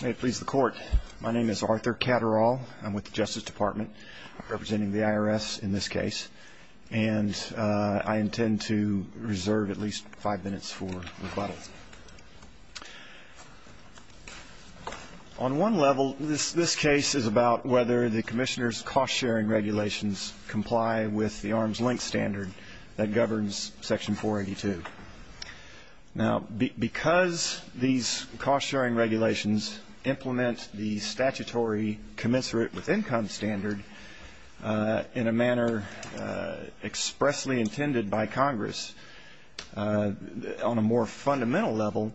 May it please the Court, my name is Arthur Catterall. I'm with the Justice Department, representing the IRS in this case, and I intend to reserve at least five minutes for rebuttal. On one level, this case is about whether the Commissioner's cost-sharing regulations comply with the arms-length standard that governs Section 482. Now, because these cost-sharing regulations implement the statutory commensurate with income standard in a manner expressly intended by Congress, on a more fundamental level,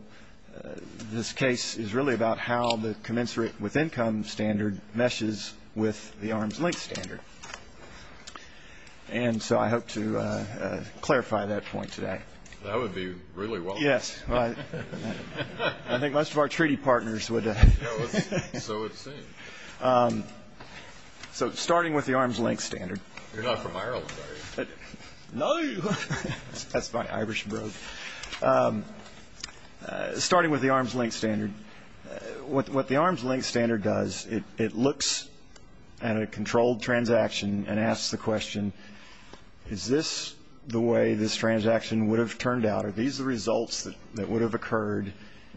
this case is really about how the commensurate with income standard meshes with the arms-length standard. And so I hope to clarify that point today. That would be really well done. Yes. I think most of our treaty partners would. So it seems. So starting with the arms-length standard. You're not from Ireland, are you? No. That's my Irish bro. Starting with the arms-length standard, what the arms-length standard does, it looks at a controlled transaction and asks the question, is this the way this transaction would have turned out? Are these the results that would have occurred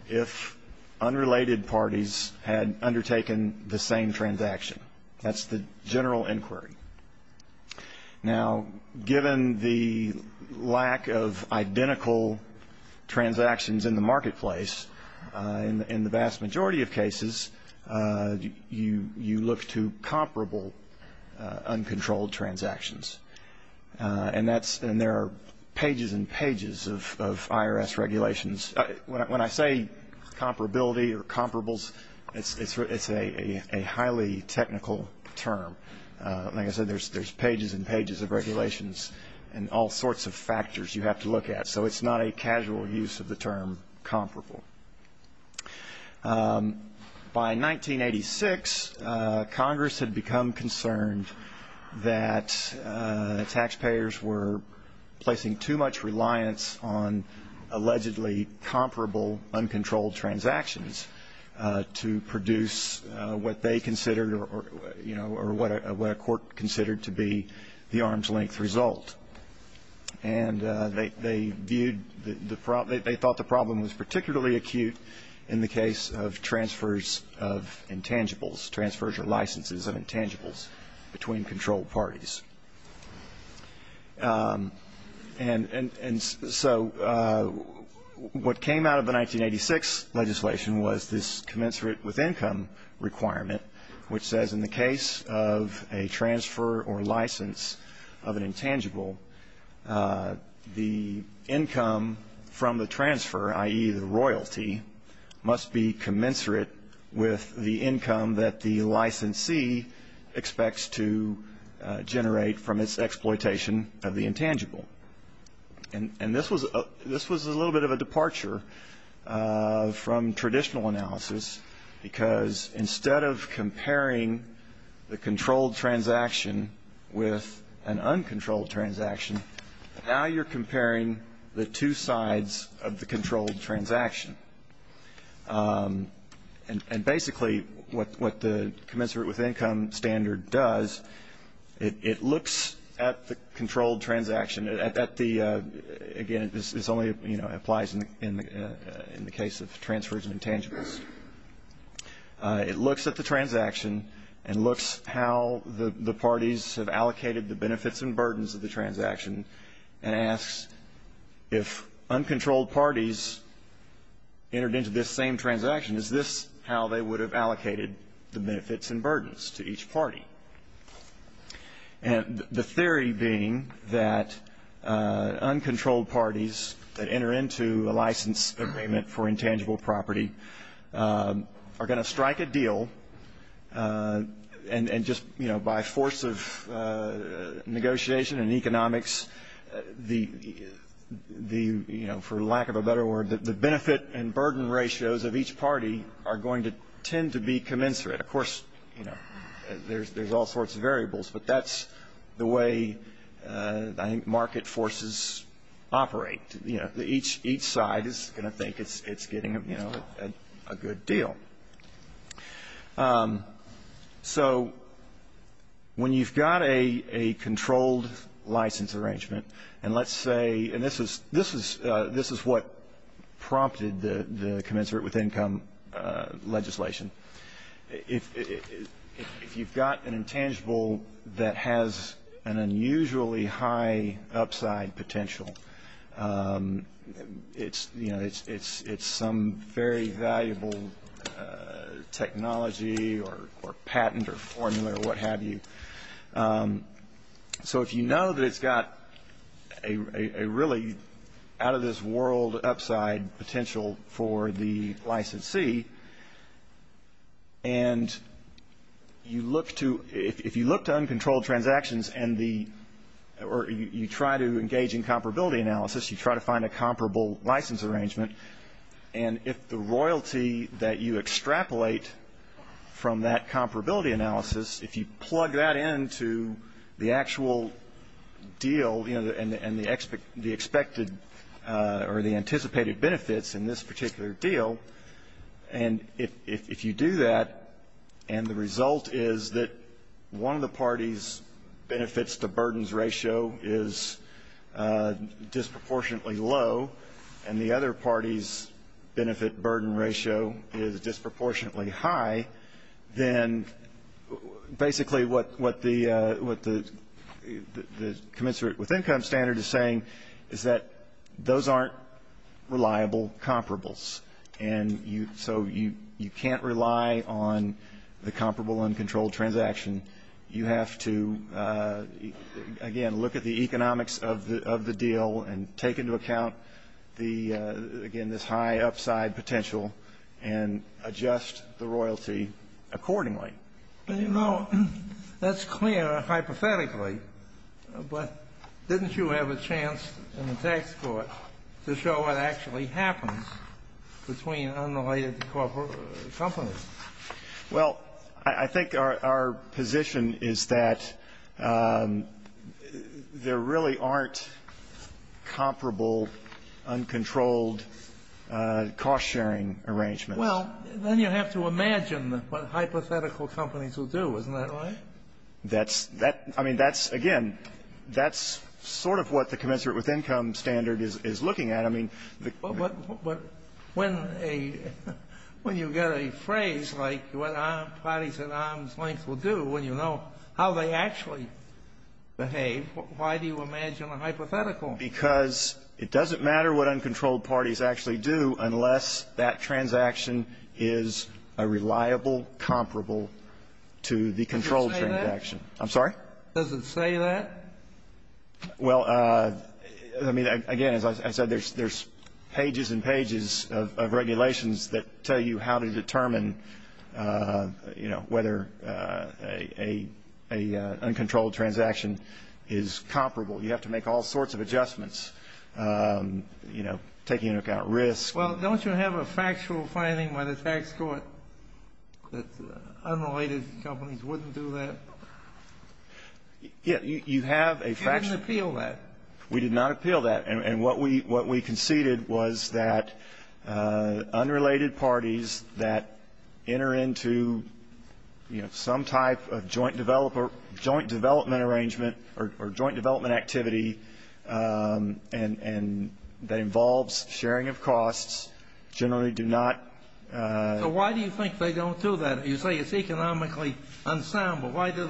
if unrelated parties had undertaken the same transaction? That's the general inquiry. Now, given the lack of identical transactions in the marketplace, in the vast majority of cases you look to comparable uncontrolled transactions. And there are pages and pages of IRS regulations. When I say comparability or comparables, it's a highly technical term. Like I said, there's pages and pages of regulations and all sorts of factors you have to look at. So it's not a casual use of the term comparable. By 1986, Congress had become concerned that taxpayers were placing too much reliance on allegedly comparable uncontrolled transactions to produce what they considered or what a court considered to be the arms-length result. And they viewed the problem, they thought the problem was particularly acute in the case of transfers of intangibles, transfers or licenses of intangibles between controlled parties. And so what came out of the 1986 legislation was this commensurate with income requirement, which says in the case of a transfer or license of an intangible, the income from the transfer, i.e., the royalty, must be commensurate with the income that the licensee expects to generate from its exploitation of the intangible. And this was a little bit of a departure from traditional analysis because instead of comparing the controlled transaction with an uncontrolled transaction, now you're comparing the two sides of the controlled transaction. And basically what the commensurate with income standard does, it looks at the controlled transaction. Again, this only applies in the case of transfers of intangibles. It looks at the transaction and looks how the parties have allocated the benefits and burdens of the transaction and asks if uncontrolled parties entered into this same transaction, is this how they would have allocated the benefits and burdens to each party? And the theory being that uncontrolled parties that enter into a license agreement for intangible property are going to strike a deal and just by force of negotiation and economics, for lack of a better word, the benefit and burden ratios of each party are going to tend to be commensurate. Of course, there's all sorts of variables, but that's the way market forces operate. Each side is going to think it's getting a good deal. So when you've got a controlled license arrangement, and let's say, and this is what prompted the commensurate with income legislation, if you've got an intangible that has an unusually high upside potential, it's some very valuable technology or patent or formula or what have you. So if you know that it's got a really out of this world upside potential for the licensee, and if you look to uncontrolled transactions or you try to engage in comparability analysis, you try to find a comparable license arrangement, and if the royalty that you extrapolate from that comparability analysis, if you plug that into the actual deal and the expected or the anticipated benefits in this particular deal, and if you do that and the result is that one of the party's benefits to burdens ratio is disproportionately low and the other party's benefit burden ratio is disproportionately high, then basically what the commensurate with income standard is saying is that those aren't reliable comparables. And so you can't rely on the comparable uncontrolled transaction. You have to, again, look at the economics of the deal and take into account, again, this high upside potential and adjust the royalty accordingly. You know, that's clear hypothetically, but didn't you have a chance in the tax court to show what actually happens between unrelated companies? Well, I think our position is that there really aren't comparable uncontrolled cost-sharing arrangements. Well, then you have to imagine what hypothetical companies will do. Isn't that right? I mean, that's, again, that's sort of what the commensurate with income standard is looking at. But when you get a phrase like what parties at arm's length will do, when you know how they actually behave, why do you imagine a hypothetical? Because it doesn't matter what uncontrolled parties actually do unless that transaction is a reliable comparable to the controlled transaction. Does it say that? I'm sorry? Does it say that? Well, I mean, again, as I said, there's pages and pages of regulations that tell you how to determine, you know, whether an uncontrolled transaction is comparable. You have to make all sorts of adjustments, you know, taking into account risk. Well, don't you have a factual finding by the tax court that unrelated companies wouldn't do that? Yeah. You have a factual. You didn't appeal that. We did not appeal that. And what we conceded was that unrelated parties that enter into, you know, some type of joint development arrangement or joint development activity and that involves sharing of costs generally do not. So why do you think they don't do that? You say it's economically unsound, but why do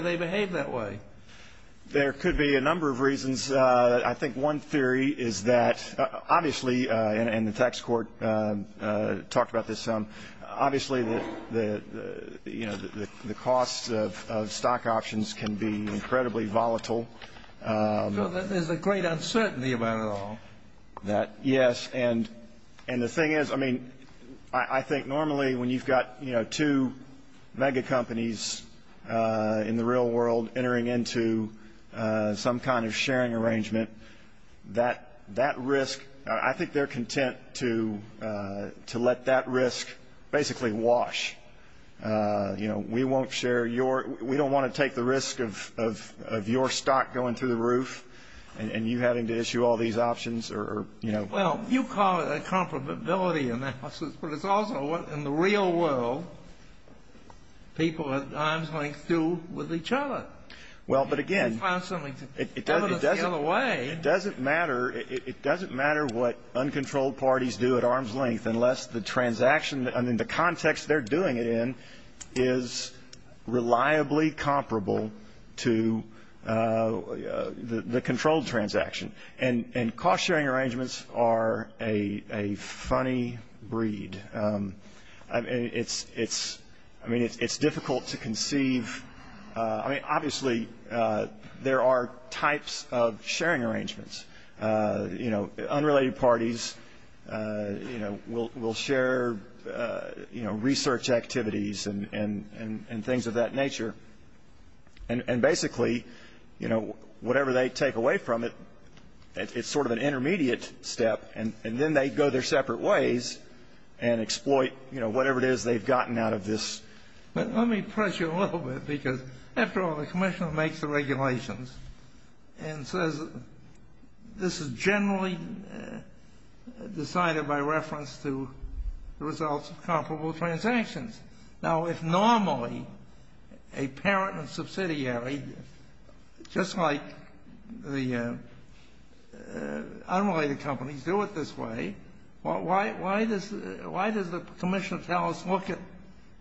they behave that way? There could be a number of reasons. I think one theory is that obviously, and the tax court talked about this some, obviously the costs of stock options can be incredibly volatile. There's a great uncertainty about it all. Yes. And the thing is, I mean, I think normally when you've got, you know, two mega companies in the real world entering into some kind of sharing arrangement, that risk, I think they're content to let that risk basically wash. You know, we won't share your, we don't want to take the risk of your stock going through the roof and you having to issue all these options or, you know. Well, you call it a comparability analysis, but it's also what in the real world people at arm's length do with each other. Well, but again, it doesn't matter what uncontrolled parties do at arm's length unless the transaction, I mean, the context they're doing it in is reliably comparable to the controlled transaction. And cost sharing arrangements are a funny breed. I mean, it's difficult to conceive. I mean, obviously there are types of sharing arrangements. You know, unrelated parties, you know, will share, you know, research activities and things of that nature. And basically, you know, whatever they take away from it, it's sort of an intermediate step, and then they go their separate ways and exploit, you know, whatever it is they've gotten out of this. Let me press you a little bit because, after all, the commissioner makes the regulations and says this is generally decided by reference to the results of comparable transactions. Now, if normally a parent and subsidiary, just like the unrelated companies, do it this way, why does the commissioner tell us look at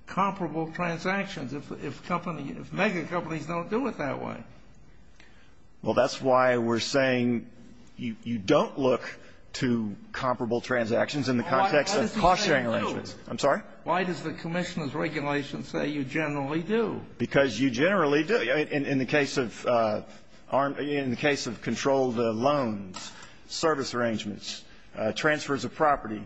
comparable transactions if company, if megacompanies don't do it that way? Well, that's why we're saying you don't look to comparable transactions in the context of cost sharing arrangements. I'm sorry? Why does the commissioner's regulation say you generally do? Because you generally do. In the case of controlled loans, service arrangements, transfers of property,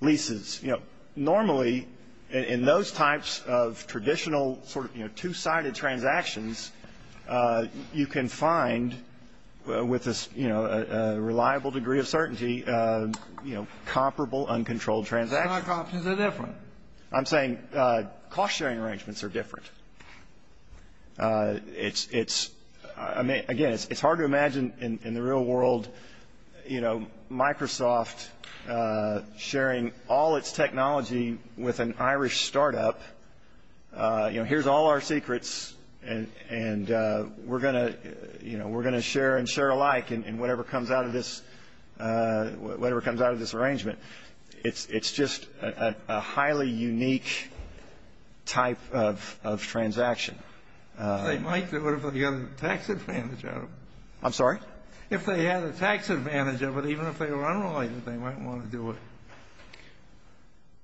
leases, you know, normally in those types of traditional sort of, you know, two-sided transactions, you can find with a, you know, a reliable degree of certainty, you know, comparable, uncontrolled transactions. But megacompanies are different. I'm saying cost sharing arrangements are different. It's, again, it's hard to imagine in the real world, you know, Microsoft sharing all its technology with an Irish startup. You know, here's all our secrets, and we're going to, you know, we're going to share and share alike in whatever comes out of this arrangement. It's just a highly unique type of transaction. They might do it if they had a tax advantage out of it. I'm sorry? If they had a tax advantage of it, even if they were unrelated, they might want to do it.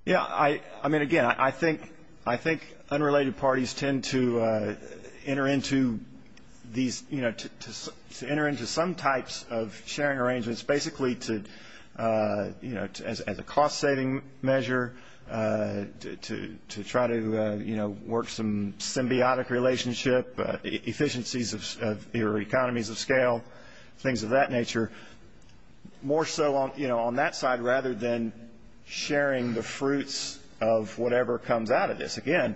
Yeah. I mean, again, I think unrelated parties tend to enter into these, you know, to enter into some types of sharing arrangements, basically to, you know, as a cost-saving measure, to try to, you know, work some symbiotic relationship, efficiencies of economies of scale, things of that nature, more so, you know, on that side, rather than sharing the fruits of whatever comes out of this. Again,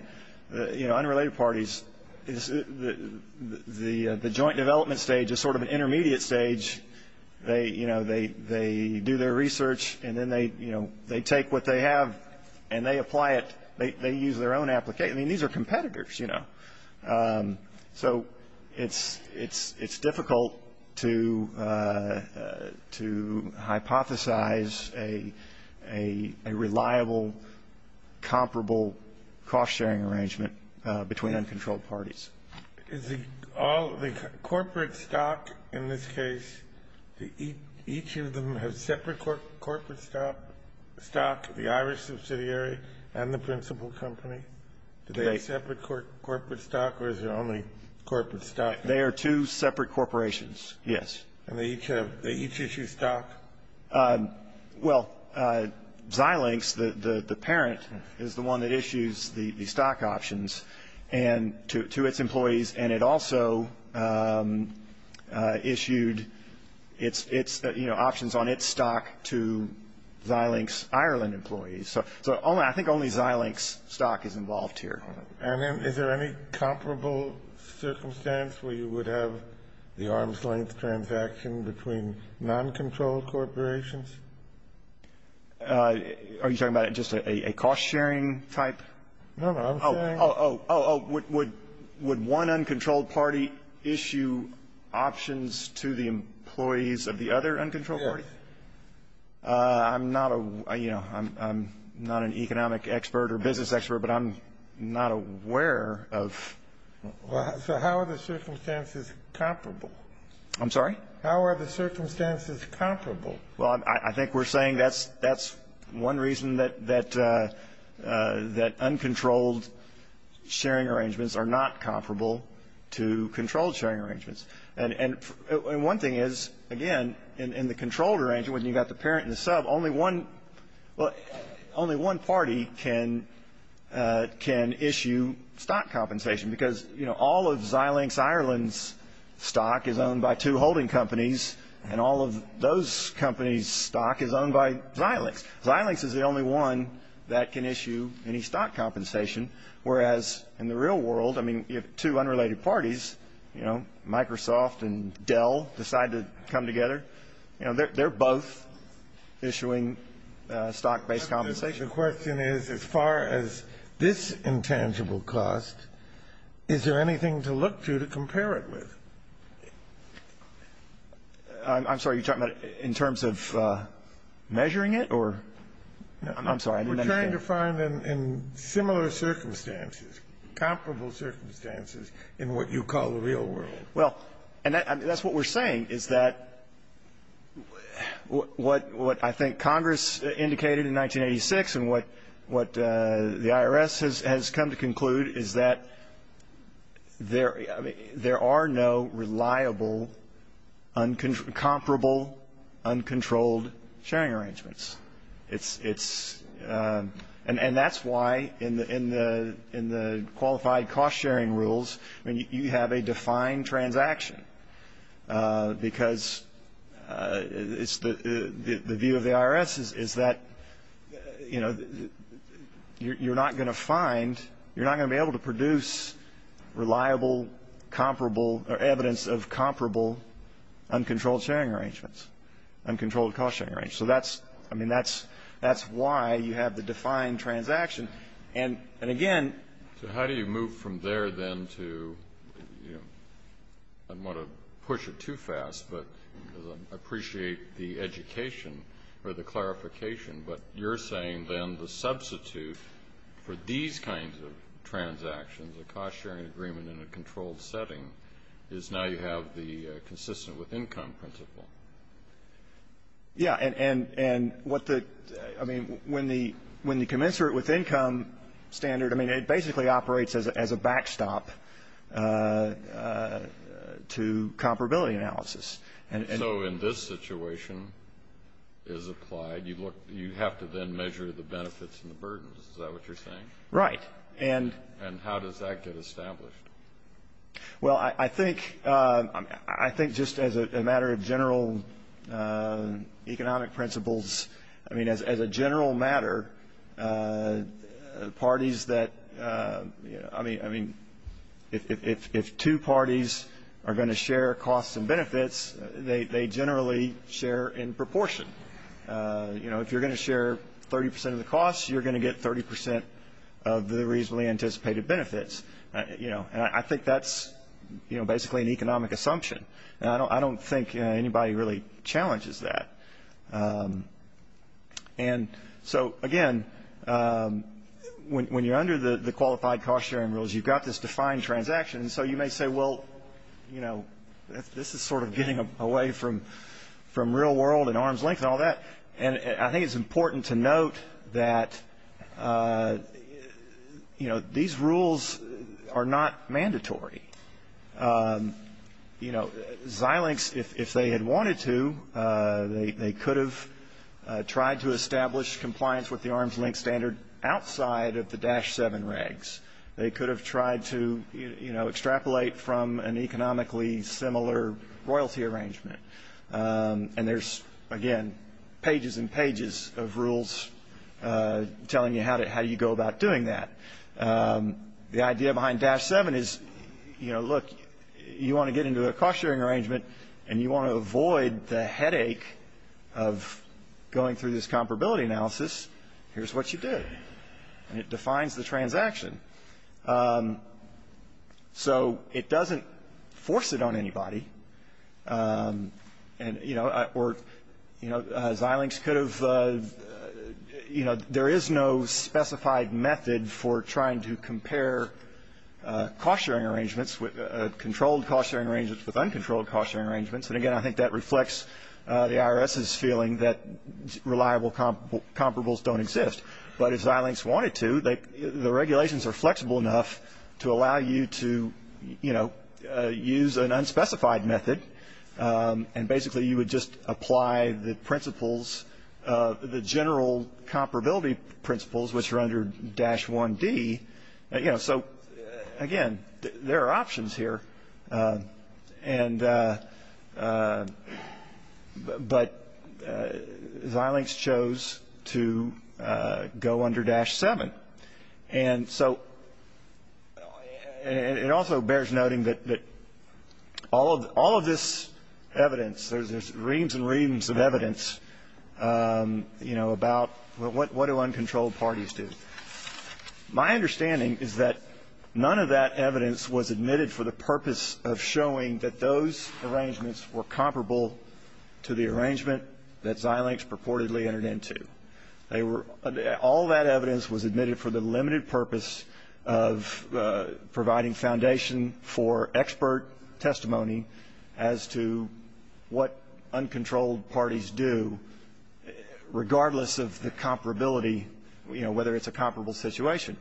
you know, unrelated parties, the joint development stage is sort of an intermediate stage. They, you know, they do their research, and then they, you know, they take what they have, and they apply it. They use their own application. I mean, these are competitors, you know. So it's difficult to hypothesize a reliable, comparable cost-sharing arrangement between uncontrolled parties. Is the corporate stock in this case, each of them have separate corporate stock, the Irish subsidiary and the principal company? Do they have separate corporate stock, or is it only corporate stock? They are two separate corporations, yes. And they each issue stock? Well, Xilinx, the parent, is the one that issues the stock options to its employees, and it also issued its, you know, options on its stock to Xilinx Ireland employees. So I think only Xilinx stock is involved here. And is there any comparable circumstance where you would have the arm's-length transaction between non-controlled corporations? Are you talking about just a cost-sharing type? No, no. Oh, oh, oh. Would one uncontrolled party issue options to the employees of the other uncontrolled party? Yes. I'm not a, you know, I'm not an economic expert or business expert, but I'm not aware of. So how are the circumstances comparable? I'm sorry? How are the circumstances comparable? Well, I think we're saying that's one reason that uncontrolled sharing arrangements are not comparable to controlled sharing arrangements. And one thing is, again, in the controlled arrangement when you've got the parent and the sub, only one party can issue stock compensation because, you know, all of Xilinx Ireland's stock is owned by two holding companies, and all of those companies' stock is owned by Xilinx. Xilinx is the only one that can issue any stock compensation, whereas in the real world, I mean, you have two unrelated parties, you know, Microsoft and Dell decide to come together. You know, they're both issuing stock-based compensation. The question is, as far as this intangible cost, is there anything to look to to compare it with? I'm sorry. Are you talking about in terms of measuring it or? I'm sorry. We're trying to find in similar circumstances, comparable circumstances in what you call the real world. Well, and that's what we're saying is that what I think Congress indicated in 1986 and what the IRS has come to conclude is that there are no reliable, comparable, uncontrolled sharing arrangements. And that's why in the qualified cost-sharing rules, I mean, you have a defined transaction, because the view of the IRS is that, you know, you're not going to find, you're not going to be able to produce reliable, comparable, or evidence of comparable uncontrolled sharing arrangements, uncontrolled cost-sharing arrangements. So that's, I mean, that's why you have the defined transaction. And again. So how do you move from there then to, you know, I don't want to push it too fast, but I appreciate the education or the clarification, but you're saying then the substitute for these kinds of transactions, a cost-sharing agreement in a controlled setting, is now you have the consistent with income principle. Yeah. And what the, I mean, when the commensurate with income standard, I mean, it basically operates as a backstop to comparability analysis. So in this situation is applied, you have to then measure the benefits and the burdens. Is that what you're saying? Right. And how does that get established? Well, I think just as a matter of general economic principles, I mean, as a general matter, parties that, I mean, if two parties are going to share costs and benefits, they generally share in proportion. You know, if you're going to share 30 percent of the costs, you're going to get 30 percent of the reasonably anticipated benefits. You know, and I think that's, you know, basically an economic assumption. And I don't think anybody really challenges that. And so, again, when you're under the qualified cost-sharing rules, you've got this defined transaction. And so you may say, well, you know, this is sort of getting away from real world and arm's length and all that. And I think it's important to note that, you know, these rules are not mandatory. You know, Xilinx, if they had wanted to, they could have tried to establish compliance with the arm's length standard outside of the Dash 7 regs. They could have tried to, you know, extrapolate from an economically similar royalty arrangement. And there's, again, pages and pages of rules telling you how you go about doing that. The idea behind Dash 7 is, you know, look, you want to get into a cost-sharing arrangement and you want to avoid the headache of going through this comparability analysis, here's what you do. And it defines the transaction. So it doesn't force it on anybody. And, you know, Xilinx could have, you know, there is no specified method for trying to compare cost-sharing arrangements, controlled cost-sharing arrangements with uncontrolled cost-sharing arrangements. And, again, I think that reflects the IRS's feeling that reliable comparables don't exist. But if Xilinx wanted to, the regulations are flexible enough to allow you to, you know, use an unspecified method. And basically you would just apply the principles, the general comparability principles, which are under Dash 1D. So, again, there are options here. And but Xilinx chose to go under Dash 7. And so it also bears noting that all of this evidence, there's reams and reams of evidence, you know, about what do uncontrolled parties do. My understanding is that none of that evidence was admitted for the purpose of showing that those arrangements were comparable to the arrangement that Xilinx purportedly entered into. They were all that evidence was admitted for the limited purpose of providing foundation for expert testimony as to what uncontrolled parties do, regardless of the comparability, you know, whether it's a comparable situation.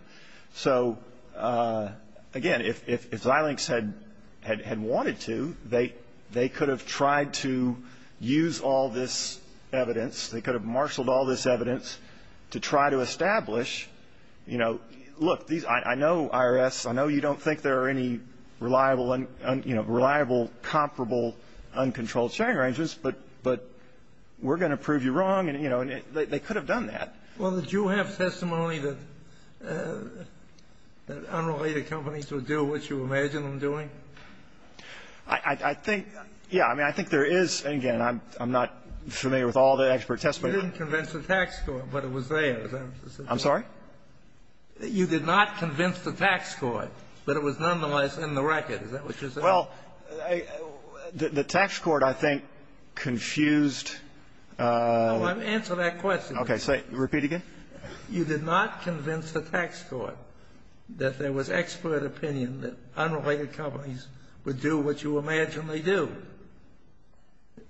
So, again, if Xilinx had wanted to, they could have tried to use all this evidence. They could have marshaled all this evidence to try to establish, you know, look, I know IRS, I know you don't think there are any reliable, you know, reliable, comparable uncontrolled sharing arrangements, but we're going to prove you wrong. And, you know, they could have done that. Well, did you have testimony that unrelated companies would do what you imagine them doing? I think, yeah. I mean, I think there is. And, again, I'm not familiar with all the expert testimony. You didn't convince the tax court, but it was there. I'm sorry? You did not convince the tax court, but it was nonetheless in the record. Is that what you're saying? Well, the tax court, I think, confused. Answer that question. Okay. Repeat again. You did not convince the tax court that there was expert opinion that unrelated companies would do what you imagine they do.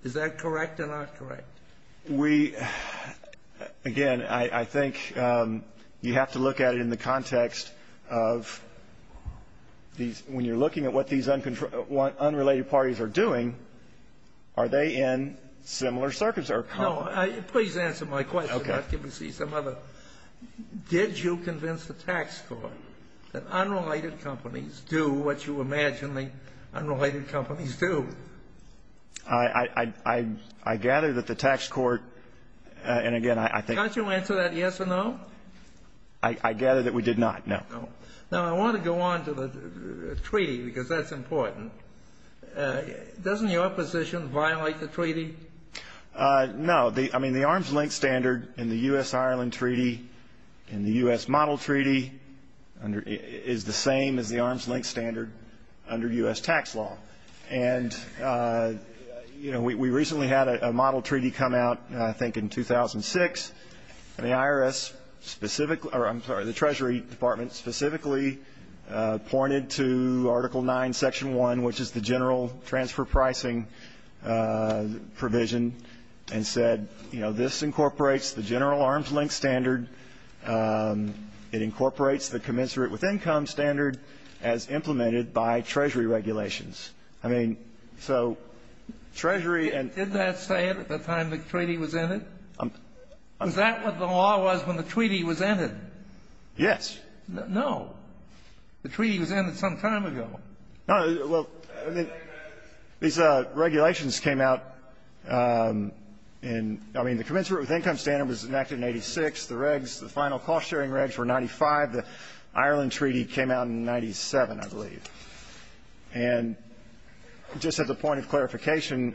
Is that correct or not correct? We – again, I think you have to look at it in the context of these – when you're looking at what these unrelated parties are doing, are they in similar circuits or comparable? No. Please answer my question. Okay. Let me see some other. Did you convince the tax court that unrelated companies do what you imagine the unrelated companies do? I gather that the tax court – and, again, I think – Can't you answer that yes or no? I gather that we did not, no. No. Now, I want to go on to the treaty, because that's important. Doesn't your position violate the treaty? No. I mean, the arm's length standard in the U.S.-Ireland treaty and the U.S. model treaty is the same as the arm's length standard under U.S. tax law. And, you know, we recently had a model treaty come out, I think, in 2006. And the IRS specifically – or, I'm sorry, the Treasury Department specifically pointed to Article IX, Section 1, which is the general transfer pricing provision and said, you know, this incorporates the general arm's length standard. It incorporates the commensurate with income standard as implemented by Treasury regulations. I mean, so Treasury and – Didn't that say it at the time the treaty was ended? Is that what the law was when the treaty was ended? Yes. No. The treaty was ended some time ago. No. Well, these regulations came out in – I mean, the commensurate with income standard was enacted in 86. The regs, the final cost-sharing regs were 95. The Ireland treaty came out in 97, I believe. And just as a point of clarification,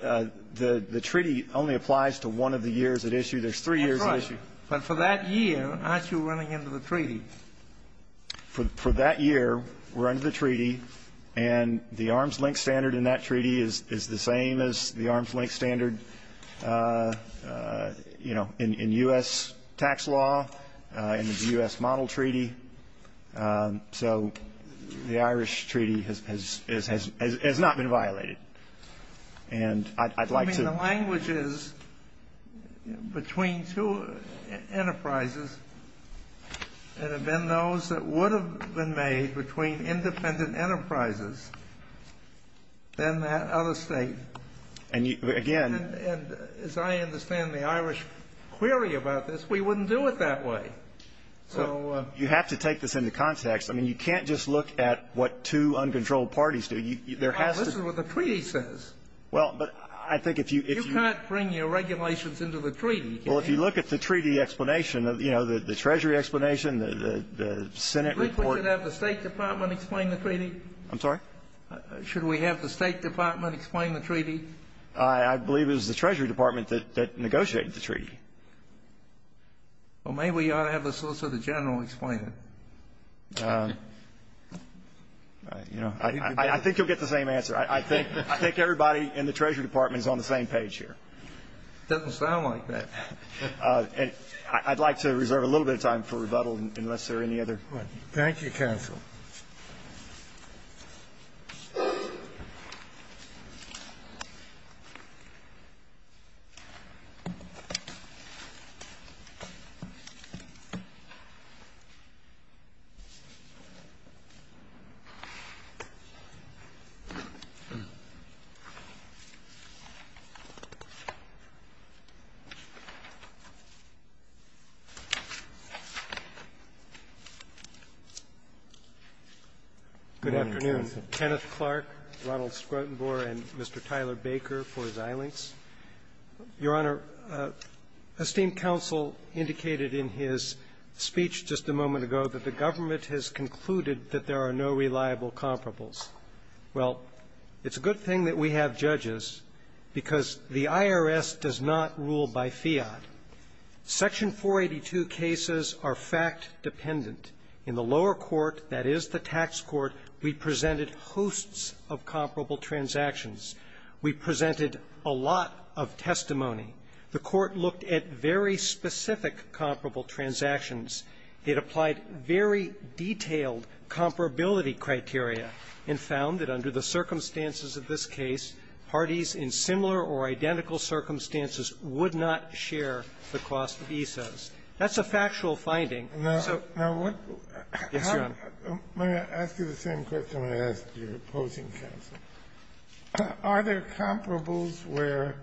the treaty only applies to one of the years at issue. There's three years at issue. But for that year, aren't you running into the treaty? For that year, we're under the treaty. And the arm's length standard in that treaty is the same as the arm's length standard, you know, in U.S. tax law, in the U.S. model treaty. So the Irish treaty has not been violated. And I'd like to – I mean, the languages between two enterprises that have been those that would have been made between independent enterprises, then that other state. And, again – And as I understand the Irish query about this, we wouldn't do it that way. So – You have to take this into context. I mean, you can't just look at what two uncontrolled parties do. There has to – This is what the treaty says. Well, but I think if you – You can't bring your regulations into the treaty. Well, if you look at the treaty explanation, you know, the Treasury explanation, the Senate report – Do you think we should have the State Department explain the treaty? I'm sorry? Should we have the State Department explain the treaty? I believe it was the Treasury Department that negotiated the treaty. Well, maybe we ought to have the Solicitor General explain it. You know, I think you'll get the same answer. I think everybody in the Treasury Department is on the same page here. It doesn't sound like that. I'd like to reserve a little bit of time for rebuttal unless there are any other questions. Good afternoon. Kenneth Clark, Ronald Squirtenboer, and Mr. Tyler Baker, for exilence. Your Honor, esteemed counsel indicated in his speech just a moment ago that the government has concluded that there are no reliable comparables. Well, it's a good thing that we have judges because the IRS does not rule by fiat. Section 482 cases are fact-dependent. In the lower court, that is the tax court, we presented hosts of comparable transactions. We presented a lot of testimony. The court looked at very specific comparable transactions. It applied very detailed comparability criteria and found that under the circumstances of this case, parties in similar or identical circumstances would not share the cost of ESOs. That's a factual finding. Yes, Your Honor. Let me ask you the same question I asked your opposing counsel. Are there comparables where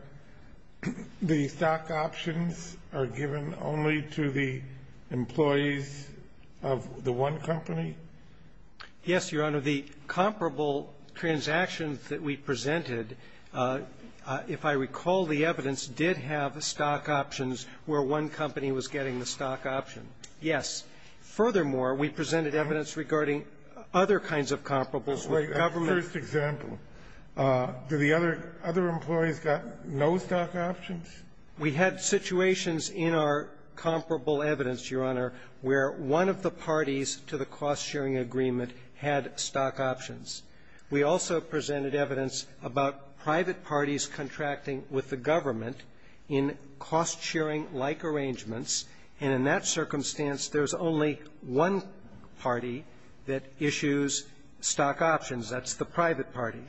the stock options are given only to the employees of the one company? Yes, Your Honor. The comparable transactions that we presented, if I recall the evidence, did have stock options where one company was getting the stock option. Yes. Furthermore, we presented evidence regarding other kinds of comparables with government. That's the first example. Do the other employees got no stock options? We had situations in our comparable evidence, Your Honor, where one of the parties to the cost-sharing agreement had stock options. We also presented evidence about private parties contracting with the government in cost-sharing-like arrangements, and in that circumstance, there's only one party that issues stock options. That's the private party.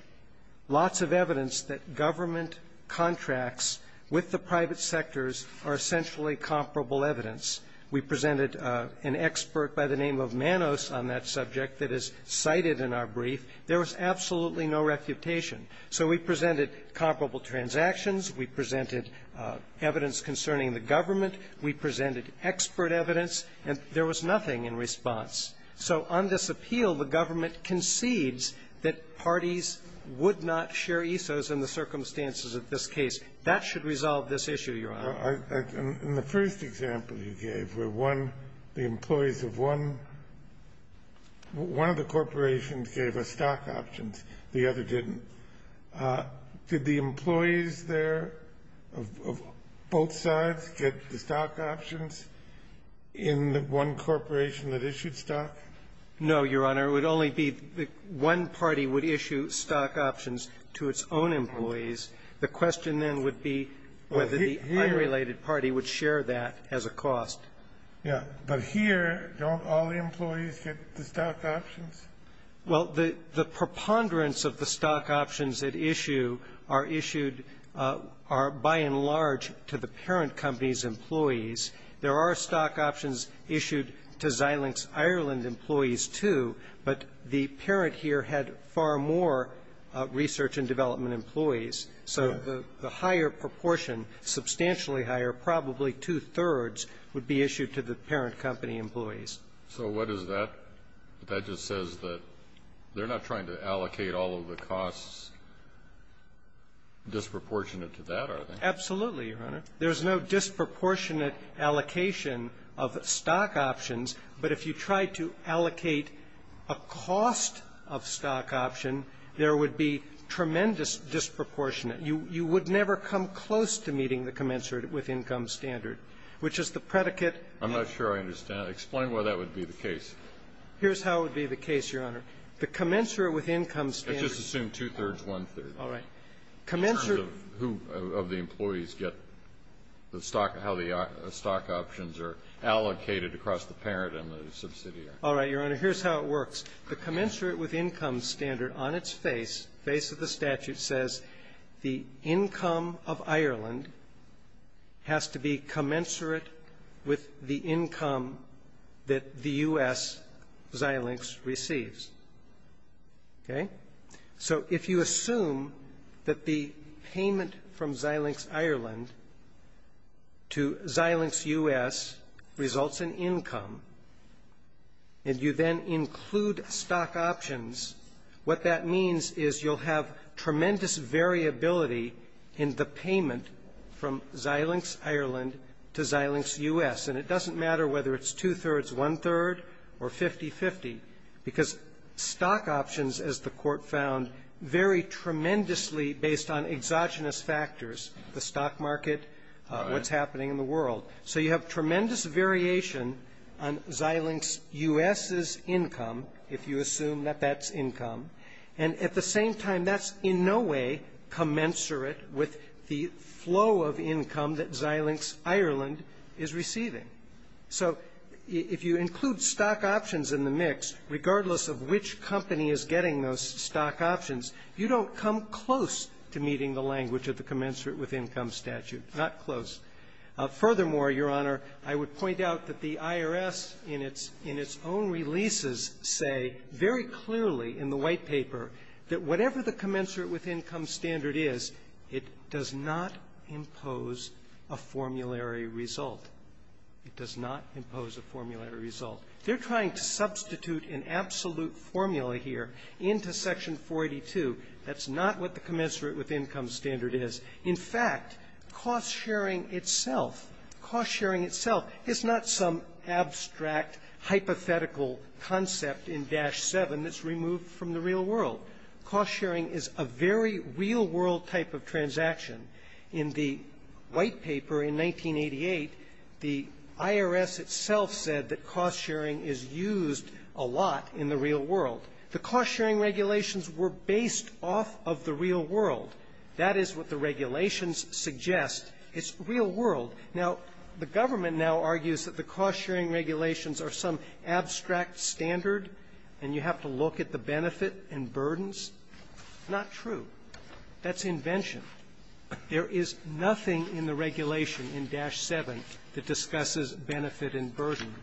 Lots of evidence that government contracts with the private sectors are essentially comparable evidence. We presented an expert by the name of Manos on that subject that is cited in our brief. There was absolutely no refutation. So we presented comparable transactions. We presented evidence concerning the government. We presented expert evidence, and there was nothing in response. So on this appeal, the government concedes that parties would not share ESOs in the circumstances of this case. That should resolve this issue, Your Honor. In the first example you gave, where one of the employees of one of the corporations gave us stock options, the other didn't, did the employees there of both sides get the stock options in the one corporation that issued stock? No, Your Honor. It would only be the one party would issue stock options to its own employees. The question then would be whether the unrelated party would share that as a cost. Yeah. But here, don't all the employees get the stock options? Well, the preponderance of the stock options at issue are issued by and large to the parent company's employees. There are stock options issued to Xilinx Ireland employees, too, but the parent here had far more research and development employees. So the higher proportion, substantially higher, probably two-thirds, would be issued to the parent company employees. So what is that? That just says that they're not trying to allocate all of the costs disproportionate to that, are they? Absolutely, Your Honor. There's no disproportionate allocation of stock options, but if you tried to allocate a cost of stock option, there would be tremendous disproportionate. You would never come close to meeting the commensurate with income standard, which is the predicate. I'm not sure I understand. Explain why that would be the case. Here's how it would be the case, Your Honor. The commensurate with income standard Let's just assume two-thirds, one-third. All right. Commensurate Who of the employees get the stock, how the stock options are allocated across the parent and the subsidiary? All right, Your Honor. Here's how it works. The commensurate with income standard on its face, face of the statute, says the income of Ireland has to be commensurate with the income that the U.S. Xilinx receives. Okay? So if you assume that the payment from Xilinx Ireland to Xilinx U.S. results in income, and you then include stock options, what that means is you'll have tremendous variability in the payment from Xilinx Ireland to Xilinx U.S. And it doesn't matter whether it's two-thirds, one-third, or 50-50, because stock options as the Court found vary tremendously based on exogenous factors, the stock market, what's happening in the world. So you have tremendous variation on Xilinx U.S.'s income, if you assume that that's income. And at the same time, that's in no way commensurate with the flow of income that Xilinx Ireland is receiving. So if you include stock options in the mix, regardless of which company is getting those stock options, you don't come close to meeting the language of the commensurate-with-income statute. Not close. Furthermore, Your Honor, I would point out that the IRS, in its own releases, say very clearly in the White Paper that whatever the commensurate-with-income standard is, it does not impose a formulary result. It does not impose a formulary result. They're trying to substitute an absolute formula here into Section 482. That's not what the commensurate-with-income standard is. In fact, cost-sharing itself, cost-sharing itself is not some abstract, hypothetical concept in Dash 7 that's removed from the real world. Cost-sharing is a very real-world type of transaction. In the White Paper in 1988, the IRS itself said that cost-sharing is used a lot in the real world. The cost-sharing regulations were based off of the real world. That is what the regulations suggest. It's real world. Now, the government now argues that the cost-sharing regulations are some abstract standard, and you have to look at the benefit and burdens. Not true. That's invention. There is nothing in the regulation in Dash 7 that discusses benefit and burden.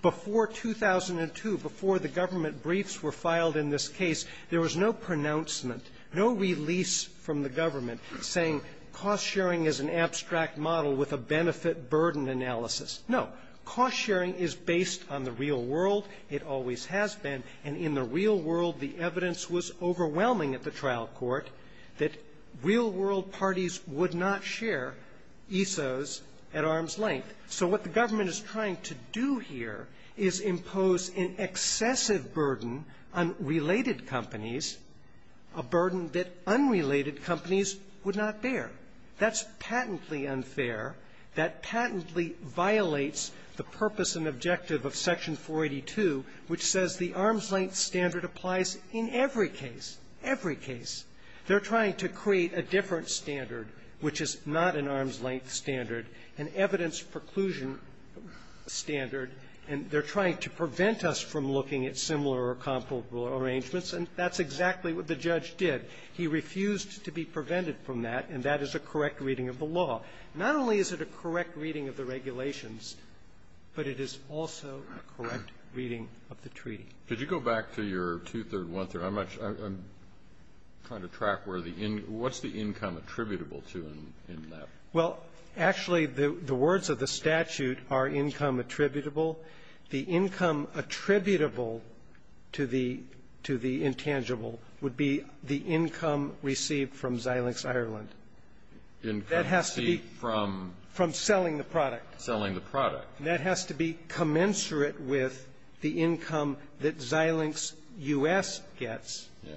Before 2002, before the government briefs were filed in this case, there was no pronouncement, no release from the government saying cost-sharing is an abstract model with a benefit-burden analysis. No. Cost-sharing is based on the real world. It always has been. And in the real world, the evidence was overwhelming at the trial court that real-world parties would not share ESOs at arm's length. So what the government is trying to do here is impose an excessive burden on related companies, a burden that unrelated companies would not bear. That's patently unfair. That patently violates the purpose and objective of Section 482, which says the arm's length standard applies in every case, every case. They're trying to create a different standard, which is not an arm's length standard, an evidence preclusion standard, and they're trying to prevent us from looking at similar or comparable arrangements, and that's exactly what the judge did. He refused to be prevented from that, and that is a correct reading of the law. Not only is it a correct reading of the regulations, but it is also a correct reading of the treaty. Kennedy. Could you go back to your two-third, one-third? I'm not sure. I'm trying to track where the in – what's the income attributable to in that? Well, actually, the words of the statute are income attributable. The income attributable to the – to the intangible would be the income received from Xilinx Ireland. Income. That has to be from selling the product. Selling the product. And that has to be commensurate with the income that Xilinx U.S. gets. Yes.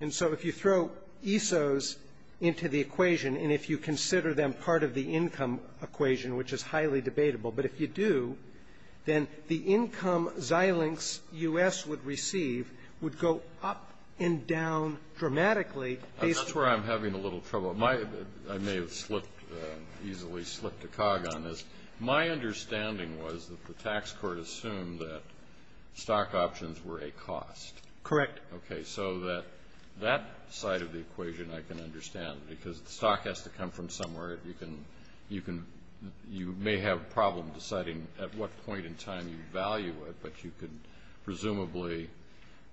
And so if you throw ESOs into the equation, and if you consider them part of the income equation, which is highly debatable, but if you do, then the income Xilinx U.S. would receive would go up and down dramatically based on the – That's where I'm having a little trouble. My – I may have slipped – easily slipped a cog on this. My understanding was that the tax court assumed that stock options were a cost. Correct. Okay. So that – that side of the equation I can understand, because the stock has to come from somewhere. You can – you can – you may have a problem deciding at what point in time you value it, but you can presumably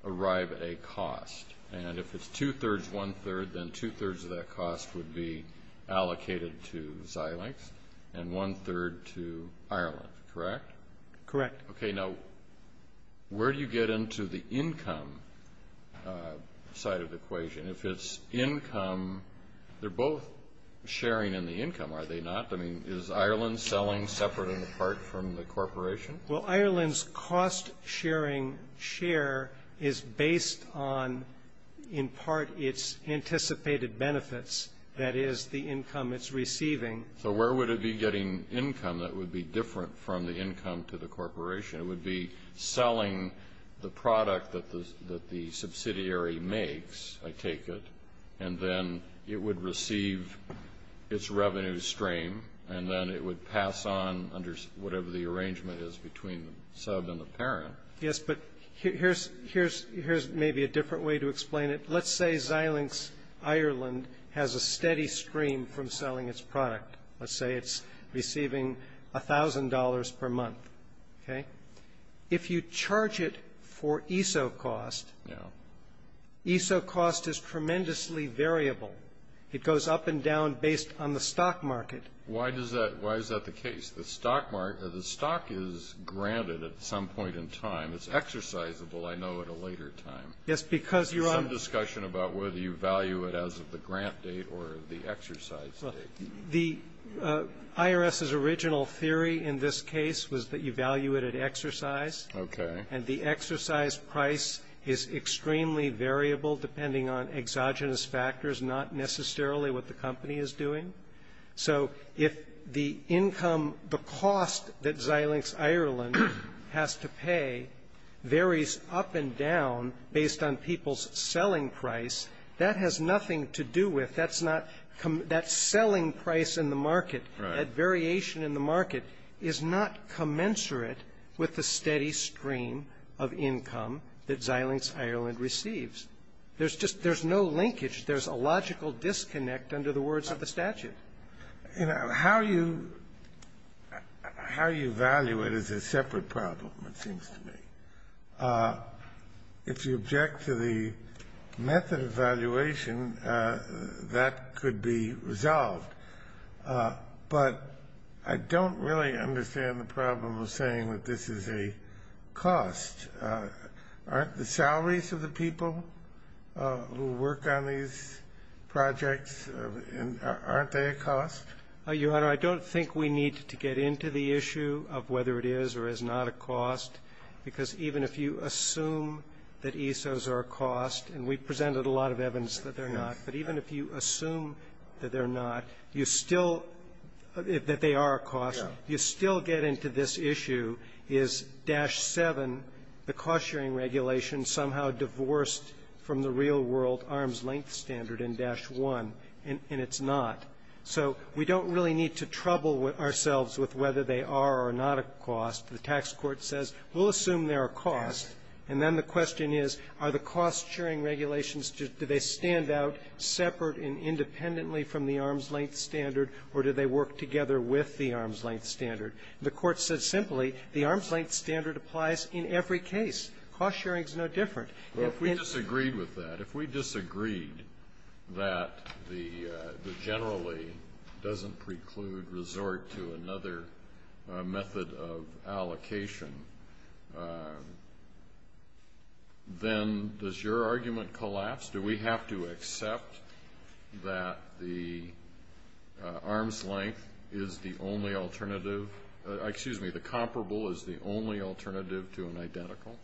arrive at a cost. And if it's two-thirds, one-third, then two-thirds of that cost would be allocated to Xilinx, and one-third to Ireland, correct? Correct. Okay. Now, where do you get into the income side of the equation? If it's income, they're both sharing in the income, are they not? I mean, is Ireland selling separate and apart from the corporation? Well, Ireland's cost-sharing share is based on, in part, its anticipated benefits, that is, the income it's receiving. So where would it be getting income that would be different from the income to the corporation? It would be selling the product that the subsidiary makes, I take it, and then it would receive its revenue stream, and then it would pass on under whatever the relationship between the sub and the parent. Yes, but here's maybe a different way to explain it. Let's say Xilinx Ireland has a steady stream from selling its product. Let's say it's receiving $1,000 per month, okay? If you charge it for ESO cost, ESO cost is tremendously variable. It goes up and down based on the stock market. Why is that the case? The stock is granted at some point in time. It's exercisable, I know, at a later time. Yes, because you're on the discussion about whether you value it as of the grant date or the exercise date. The IRS's original theory in this case was that you value it at exercise. Okay. And the exercise price is extremely variable depending on exogenous factors, not necessarily what the company is doing. So if the income, the cost that Xilinx Ireland has to pay varies up and down based on people's selling price, that has nothing to do with, that's not, that selling price in the market, that variation in the market is not commensurate with the steady stream of income that Xilinx Ireland receives. There's just, there's no linkage. There's a logical disconnect under the words of the statute. You know, how you, how you value it is a separate problem, it seems to me. If you object to the method of valuation, that could be resolved. But I don't really understand the problem of saying that this is a cost. Aren't the salaries of the people who work on these projects, aren't they a cost? Your Honor, I don't think we need to get into the issue of whether it is or is not a cost, because even if you assume that ESOs are a cost, and we presented a lot of evidence that they're not, but even if you assume that they're not, you still, that they are a cost, you still get into this issue. Is Dash 7, the cost-sharing regulation, somehow divorced from the real-world arm's-length standard in Dash 1, and it's not? So we don't really need to trouble ourselves with whether they are or not a cost. The tax court says, we'll assume they're a cost, and then the question is, are the cost-sharing regulations, do they stand out separate and independently from the arm's-length standard, or do they work together with the arm's-length standard? The court said simply, the arm's-length standard applies in every case. Cost-sharing is no different. If we disagreed with that, if we disagreed that the generally doesn't preclude resort to another method of allocation, then does your argument collapse? Do we have to accept that the arm's-length is the only alternative, excuse me, the comparable is the only alternative to an identical?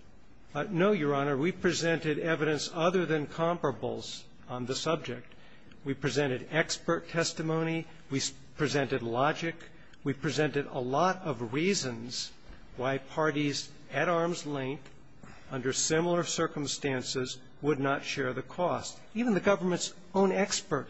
No, Your Honor. We presented evidence other than comparables on the subject. We presented expert testimony. We presented logic. We presented a lot of reasons why parties at arm's length, under similar circumstances, would not share the cost. Even the government's own expert,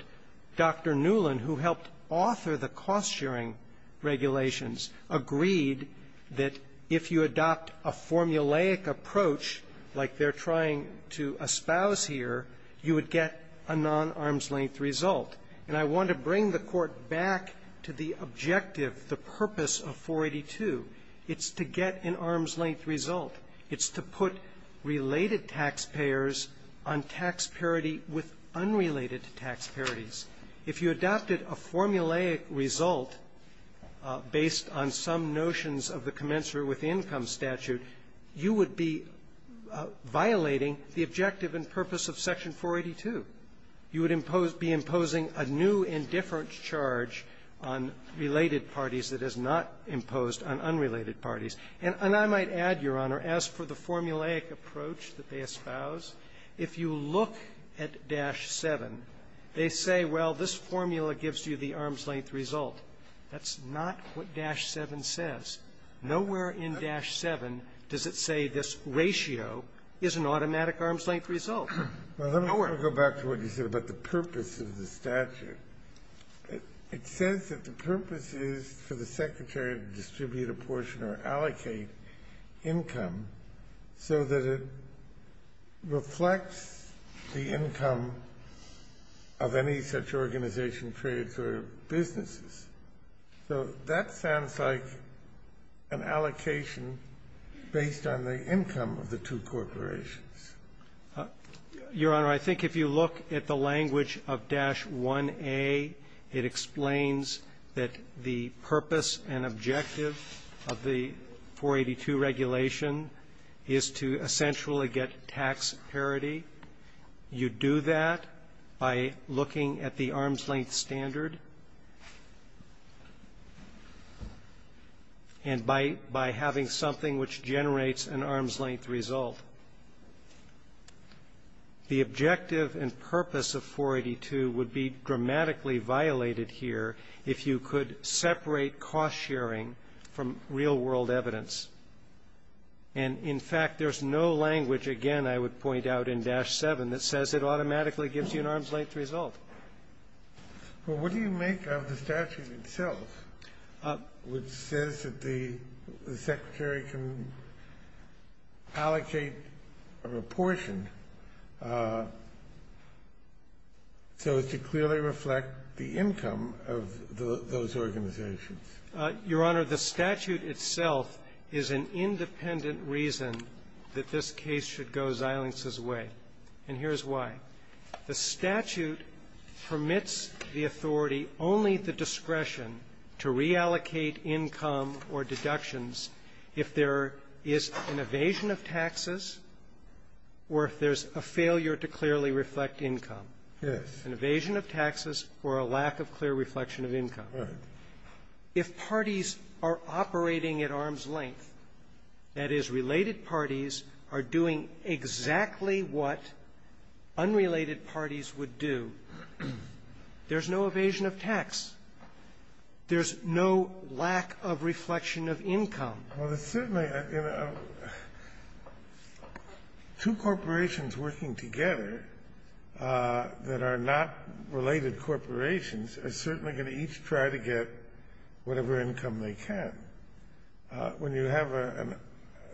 Dr. Newlin, who helped author the cost-sharing regulations, agreed that if you adopt a formulaic approach, like they're trying to espouse here, you would get a non-arm's-length result. And I want to bring the Court back to the objective, the purpose of 482. It's to get an arm's-length result. It's to put related taxpayers on tax parity with unrelated tax parities. If you adopted a formulaic result based on some notions of the commensurate with the income statute, you would be violating the objective and purpose of Section 482. You would impose be imposing a new indifference charge on related parties that is not imposed on unrelated parties. And I might add, Your Honor, as for the formulaic approach that they espouse, if you look at dash 7, they say, well, this formula gives you the arm's-length result. That's not what dash 7 says. Nowhere in dash 7 does it say this ratio is an automatic arm's-length result. Nowhere. Kennedy. Well, let me go back to what you said about the purpose of the statute. It says that the purpose is for the Secretary to distribute a portion or allocate income so that it reflects the income of any such organization, trades, or businesses. So that sounds like an allocation based on the income of the two corporations. Your Honor, I think if you look at the language of dash 1A, it explains that the purpose and objective of the 482 regulation is to essentially get tax parity. You do that by looking at the arm's-length standard and by having something which generates an arm's-length result. The objective and purpose of 482 would be dramatically violated here if you could separate cost-sharing from real-world evidence. And, in fact, there's no language, again, I would point out in dash 7, that says it automatically gives you an arm's-length result. Well, what do you make of the statute itself, which says that the Secretary can allocate a proportion so as to clearly reflect the income of those organizations? Your Honor, the statute itself is an independent reason that this case should go Zeilings' way, and here's why. The statute permits the authority, only the discretion, to reallocate income or deductions if there is an evasion of taxes or if there's a failure to clearly reflect income. Yes. An evasion of taxes or a lack of clear reflection of income. Right. If parties are operating at arm's length, that is, related parties are doing exactly what unrelated parties would do. There's no evasion of tax. There's no lack of reflection of income. Well, there's certainly a – two corporations working together that are not related corporations are certainly going to each try to get whatever income they can. When you have a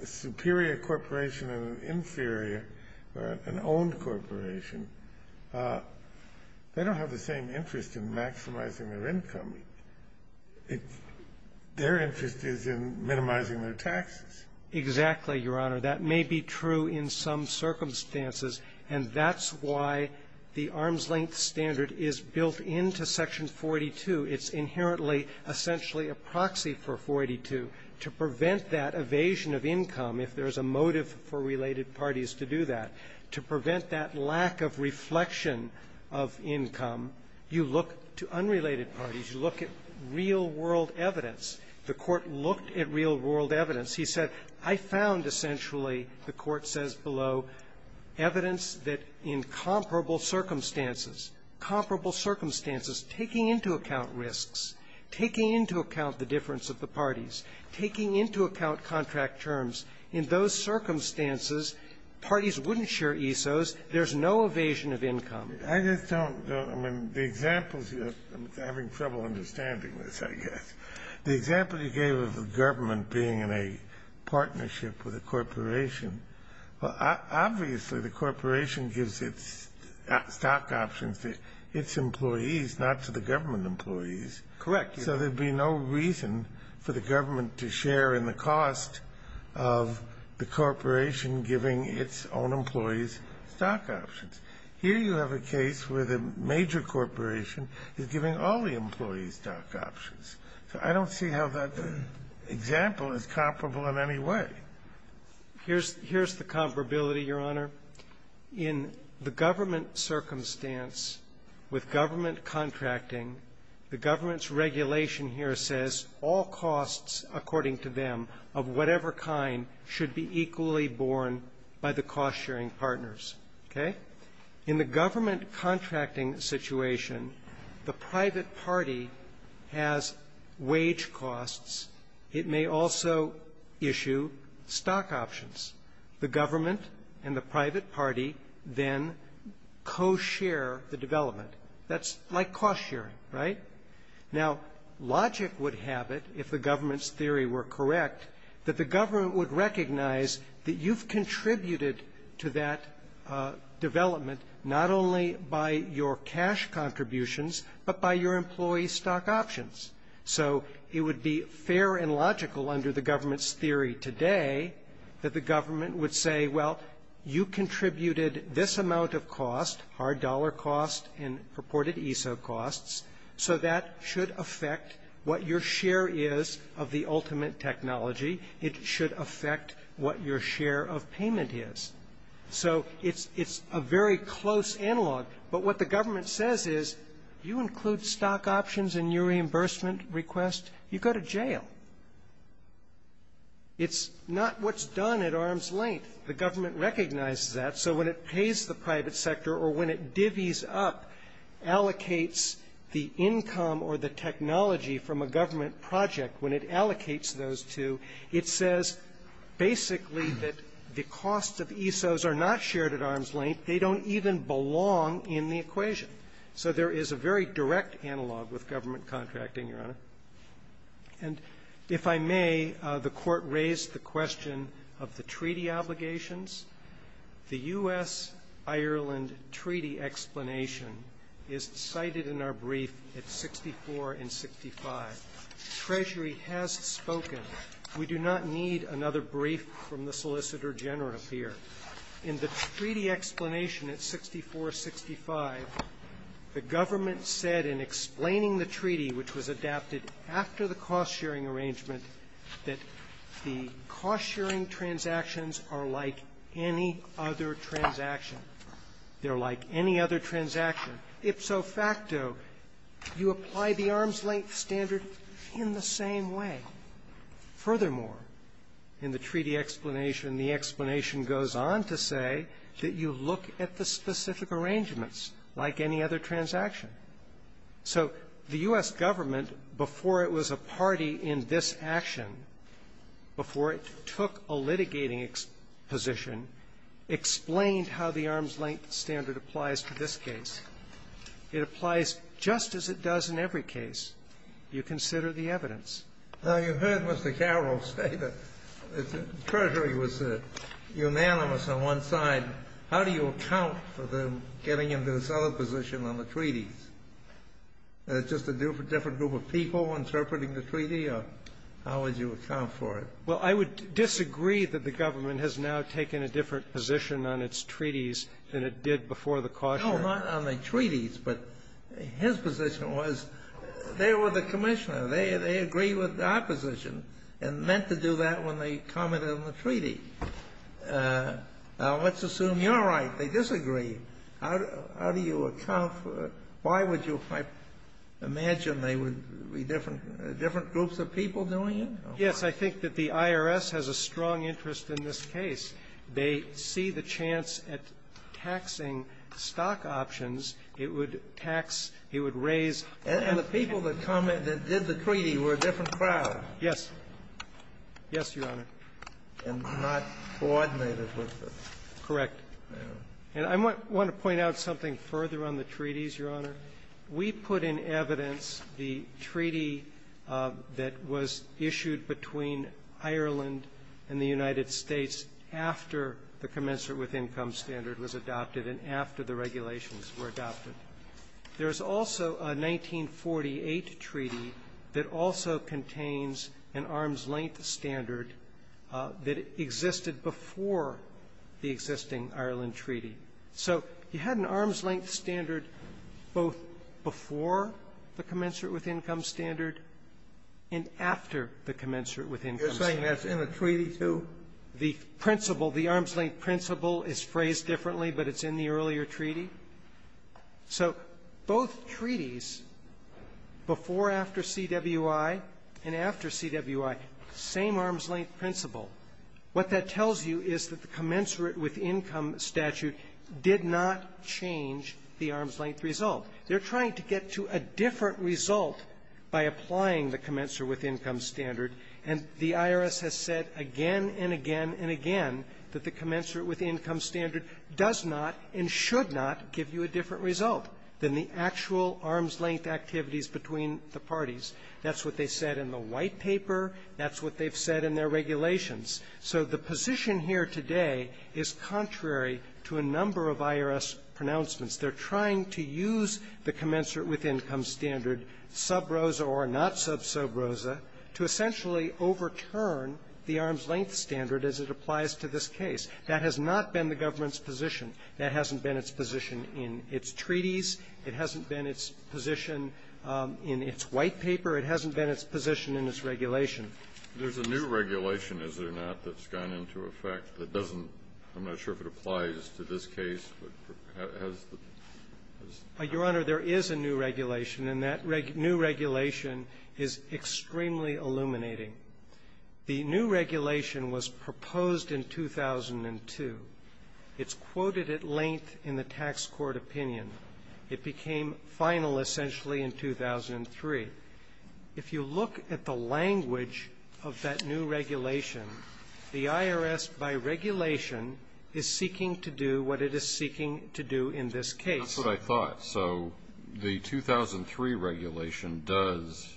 superior corporation and an inferior or an owned corporation, they don't have the same interest in maximizing their income. Their interest is in minimizing their taxes. Exactly, Your Honor. That may be true in some circumstances, and that's why the arm's-length standard is built into Section 42. It's inherently essentially a proxy for 42 to prevent that evasion of income if there's a motive for related parties to do that, to prevent that lack of reflection of income, you look to unrelated parties, you look at real-world evidence. The Court looked at real-world evidence. He said, I found essentially, the Court says below, evidence that in comparable circumstances, comparable circumstances, taking into account risks, taking into account the difference of the parties, taking into account contract terms, in those circumstances, parties wouldn't share ESOs, there's no evasion of income. I just don't – I mean, the examples you have – I'm having trouble understanding this, I guess. The example you gave of the government being in a partnership with a corporation, well, obviously, the corporation gives its stock options to its employees, not to the government employees. Correct. So there'd be no reason for the government to share in the cost of the corporation giving its own employees stock options. Here you have a case where the major corporation is giving all the employees stock options. So I don't see how that example is comparable in any way. Here's – here's the comparability, Your Honor. In the government circumstance, with government contracting, the government's regulation here says all costs, according to them, of whatever kind, should be equally borne by the cost-sharing partners. Okay? In the government contracting situation, the private party has wage costs. It may also issue stock options. The government and the private party then co-share the development. That's like cost-sharing, right? Now, logic would have it, if the government's theory were correct, that the government would recognize that you've contributed to that development not only by your cash contributions, but by your employees' stock options. So it would be fair and logical under the government's theory today that the government would say, well, you contributed this amount of cost, hard dollar cost, and purported ESO costs, so that should affect what your share is of the ultimate technology. It should affect what your share of payment is. So it's – it's a very close analog. But what the government says is, you include stock options in your reimbursement request, you go to jail. It's not what's done at arm's length. The government recognizes that. So when it pays the private sector or when it divvies up, allocates the income or the technology from a government project, when it allocates those two, it says basically that the costs of ESOs are not shared at arm's length. They don't even belong in the equation. So there is a very direct analog with government contracting, Your Honor. And if I may, the Court raised the question of the treaty obligations. The U.S.-Ireland treaty explanation is cited in our brief at 64 and 65. Treasury has spoken. We do not need another brief from the Solicitor General here. In the treaty explanation at 64, 65, the government said in explaining the treaty, which was adapted after the cost-sharing arrangement, that the cost-sharing transactions are like any other transaction. They're like any other transaction. Ipso facto, you apply the arm's length standard in the same way. Furthermore, in the treaty explanation, the explanation goes on to say that you look at the specific arrangements like any other transaction. So the U.S. government, before it was a party in this action, before it took a litigating position, explained how the arm's length standard applies to this case. It applies just as it does in every case. You consider the evidence. Now, you heard Mr. Carroll say that Treasury was unanimous on one side. How do you account for them getting into this other position on the treaties? Is it just a different group of people interpreting the treaty, or how would you account for it? Well, I would disagree that the government has now taken a different position on its treaties than it did before the cost-sharing. No, not on the treaties, but his position was they were the commissioner. They agree with the opposition and meant to do that when they commented on the treaty. Now, let's assume you're right. They disagree. How do you account for it? Why would you imagine they would be different groups of people doing it? Yes, I think that the IRS has a strong interest in this case. They see the chance at taxing stock options. It would tax — it would raise — And the people that commented — that did the treaty were a different crowd. Yes. Yes, Your Honor. And not coordinated with the — Correct. And I want to point out something further on the treaties, Your Honor. We put in evidence the treaty that was issued between Ireland and the United States after the commencement with income standard was adopted and after the regulations were adopted. There is also a 1948 treaty that also contains an arm's-length standard that existed before the existing Ireland treaty. So you had an arm's-length standard both before the commencement with income standard and after the commencement with income standard. You're saying that's in the treaty, too? The principle, the arm's-length principle is phrased differently, but it's in the earlier treaty. So both treaties, before after CWI and after CWI, same arm's-length principle. What that tells you is that the commensurate with income statute did not change the arm's-length result. They're trying to get to a different result by applying the commensurate with income standard, and the IRS has said again and again and again that the commensurate with income standard does not and should not give you a different result than the actual arm's-length activities between the parties. That's what they said in the White Paper. That's what they've said in their regulations. So the position here today is contrary to a number of IRS pronouncements. They're trying to use the commensurate with income standard, sub rosa or not sub sobrosa, to essentially overturn the arm's-length standard as it applies to this case. That has not been the government's position. That hasn't been its position in its treaties. It hasn't been its position in its White Paper. It hasn't been its position in its regulation. There's a new regulation, is there not, that's gone into effect that doesn't – I'm not sure if it applies to this case, but has the – has the – Your Honor, there is a new regulation, and that new regulation is extremely illuminating. The new regulation was proposed in 2002. It's quoted at length in the tax court opinion. It became final, essentially, in 2003. If you look at the language of that new regulation, the IRS, by regulation, is seeking to do what it is seeking to do in this case. That's what I thought. So the 2003 regulation does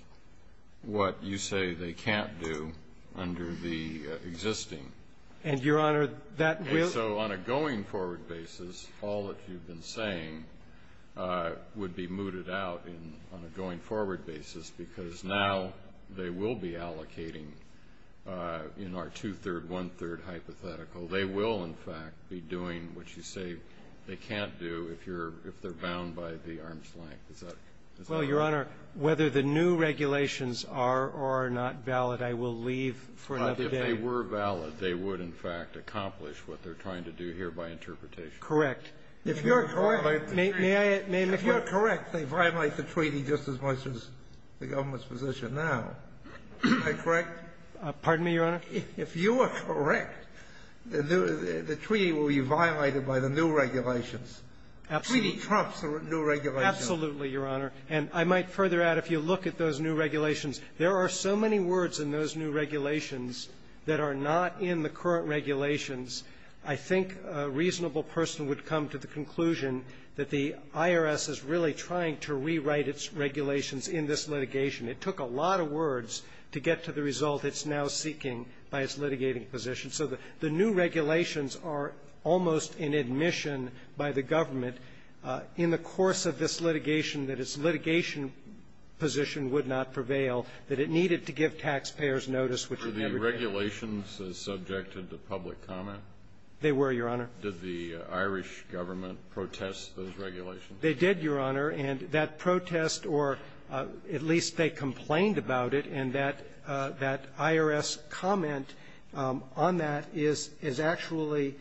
what you say they can't do under the existing. And, Your Honor, that will – And so on a going-forward basis, all that you've been saying would be mooted out in – on a going-forward basis, because now they will be allocating in our two-third, one-third hypothetical. They will, in fact, be doing what you say they can't do if you're – if they're bound by the arm's length. Is that – is that correct? Well, Your Honor, whether the new regulations are or are not valid, I will leave for another day. But if they were valid, they would, in fact, accomplish what they're trying to do here by interpretation. If you're correct, may I – may I make one? If you're correct, they violate the treaty just as much as the government's position now. Am I correct? Pardon me, Your Honor? If you are correct, the treaty will be violated by the new regulations. Absolutely. The treaty trumps the new regulations. Absolutely, Your Honor. And I might further add, if you look at those new regulations, there are so many words in those new regulations that are not in the current regulations. I think a reasonable person would come to the conclusion that the IRS is really trying to rewrite its regulations in this litigation. It took a lot of words to get to the result it's now seeking by its litigating position. So the new regulations are almost in admission by the government in the course of this litigation that its litigation position would not prevail, that it needed to give taxpayers notice, which it never did. Were the regulations subjected to public comment? They were, Your Honor. Did the Irish government protest those regulations? They did, Your Honor. And that protest, or at least they complained about it. And that IRS comment on that is actually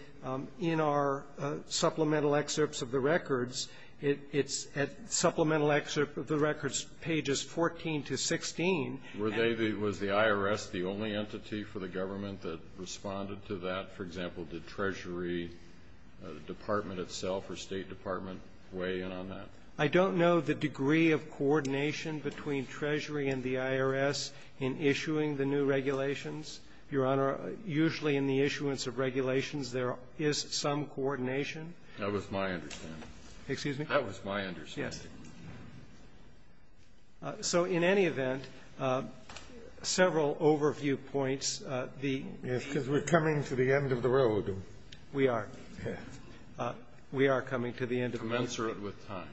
in our supplemental excerpts of the records. It's at supplemental excerpt of the records, pages 14 to 16. Were they, was the IRS the only entity for the government that responded to that? For example, did Treasury Department itself or State Department weigh in on that? I don't know the degree of coordination between Treasury and the IRS in issuing the new regulations. Your Honor, usually in the issuance of regulations, there is some coordination. That was my understanding. Excuse me? That was my understanding. Yes. So in any event, several overview points. Yes, because we're coming to the end of the road. We are. We are coming to the end of the road. Commensurate with time.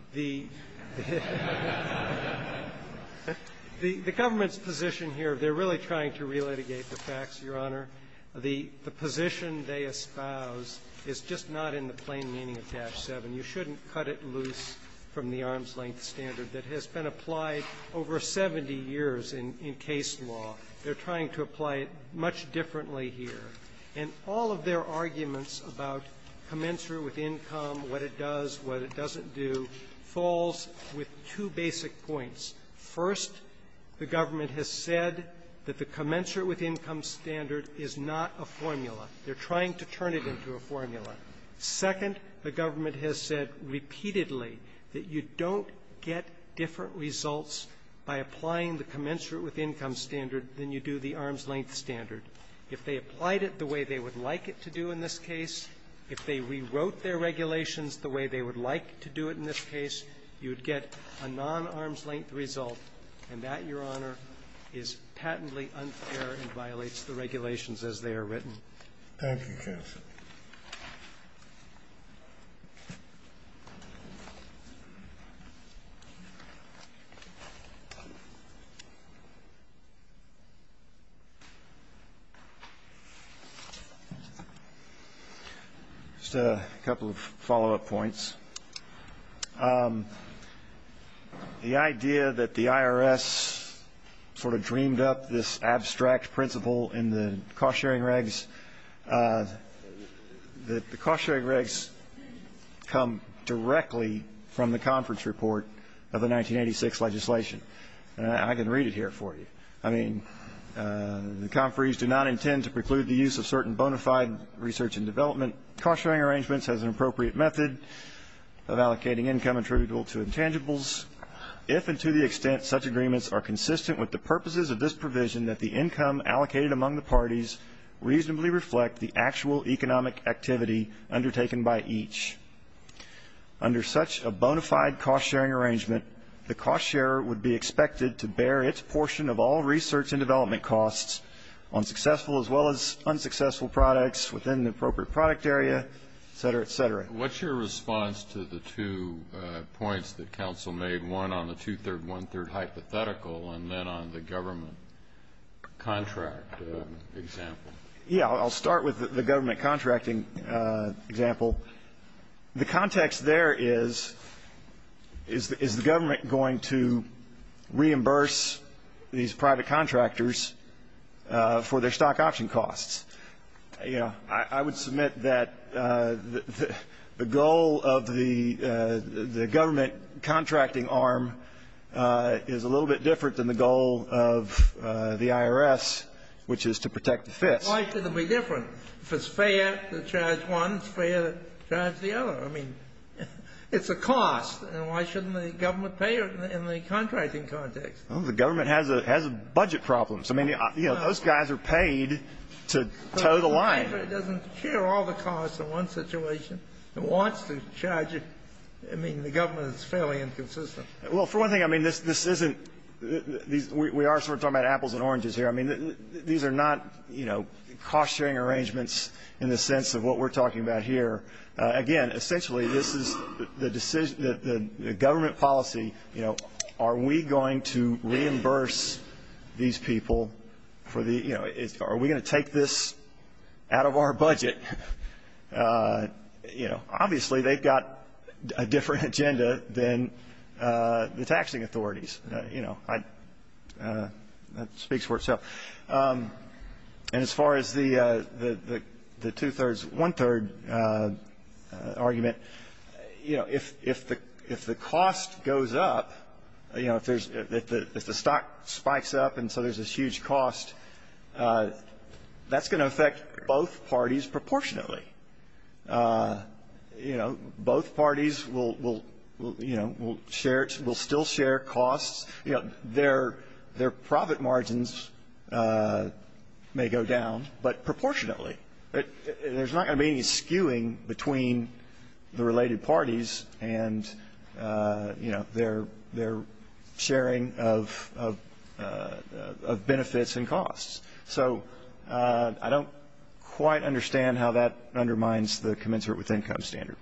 The government's position here, they're really trying to re-litigate the facts, Your Honor. The position they espouse is just not in the plain meaning of Tash 7. You shouldn't cut it loose from the arm's-length standard that has been applied over 70 years in case law. They're trying to apply it much differently here. And all of their arguments about commensurate with income, what it does, what it doesn't do, falls with two basic points. First, the government has said that the commensurate with income standard is not a formula. They're trying to turn it into a formula. Second, the government has said repeatedly that you don't get different results by applying the commensurate with income standard than you do the arm's-length standard. If they applied it the way they would like it to do in this case, if they rewrote their regulations the way they would like to do it in this case, you would get a non-arm's-length result. And that, Your Honor, is patently unfair and violates the regulations as they are written. Thank you, counsel. Just a couple of follow-up points. The idea that the IRS sort of dreamed up this abstract principle in the cost-sharing regs, the cost-sharing regs come directly from the conference report of the 1986 legislation. And I can read it here for you. I mean, the conferees do not intend to preclude the use of certain bona fide research and development cost-sharing arrangements as an appropriate method of allocating income attributable to intangibles, if and to the extent such agreements are consistent with the purposes of this provision that the income allocated among the parties reasonably reflect the actual economic activity undertaken by each. Under such a bona fide cost-sharing arrangement, the cost-sharer would be expected to bear its portion of all research and development costs on successful as well as unsuccessful products within the appropriate product area, et cetera, et cetera. What's your response to the two points that counsel made, one on the two-third, one-third hypothetical and then on the government contract example? Yeah, I'll start with the government contracting example. The context there is, is the government going to reimburse these private contractors for their stock option costs? You know, I would submit that the goal of the government contracting arm is a little bit different than the goal of the IRS, which is to protect the FIS. Why should it be different? If it's fair to charge one, it's fair to charge the other. I mean, it's a cost, and why shouldn't the government pay it in the contracting context? Well, the government has a budget problem. So, I mean, you know, those guys are paid to toe the line. But if it doesn't share all the costs in one situation and wants to charge it, I mean, the government is fairly inconsistent. Well, for one thing, I mean, this isn't, we are sort of talking about apples and oranges here. I mean, these are not, you know, cost-sharing arrangements in the sense of what we're talking about here. Again, essentially, this is the decision, the government policy, you know, are we going to reimburse these people for the, you know, are we going to take this out of our budget? You know, obviously, they've got a different agenda than the taxing authorities. You know, that speaks for itself. And as far as the two-thirds, one-third argument, you know, if the cost goes up, you know, if there's, if the stock spikes up and so there's this huge cost, that's going to affect both parties proportionately. You know, both parties will, you know, will share, will still share costs. You know, their profit margins may go down, but proportionately. There's not going to be any skewing between the related parties and, you know, their sharing of benefits and costs. So I don't quite understand how that undermines the commensurate with income standard.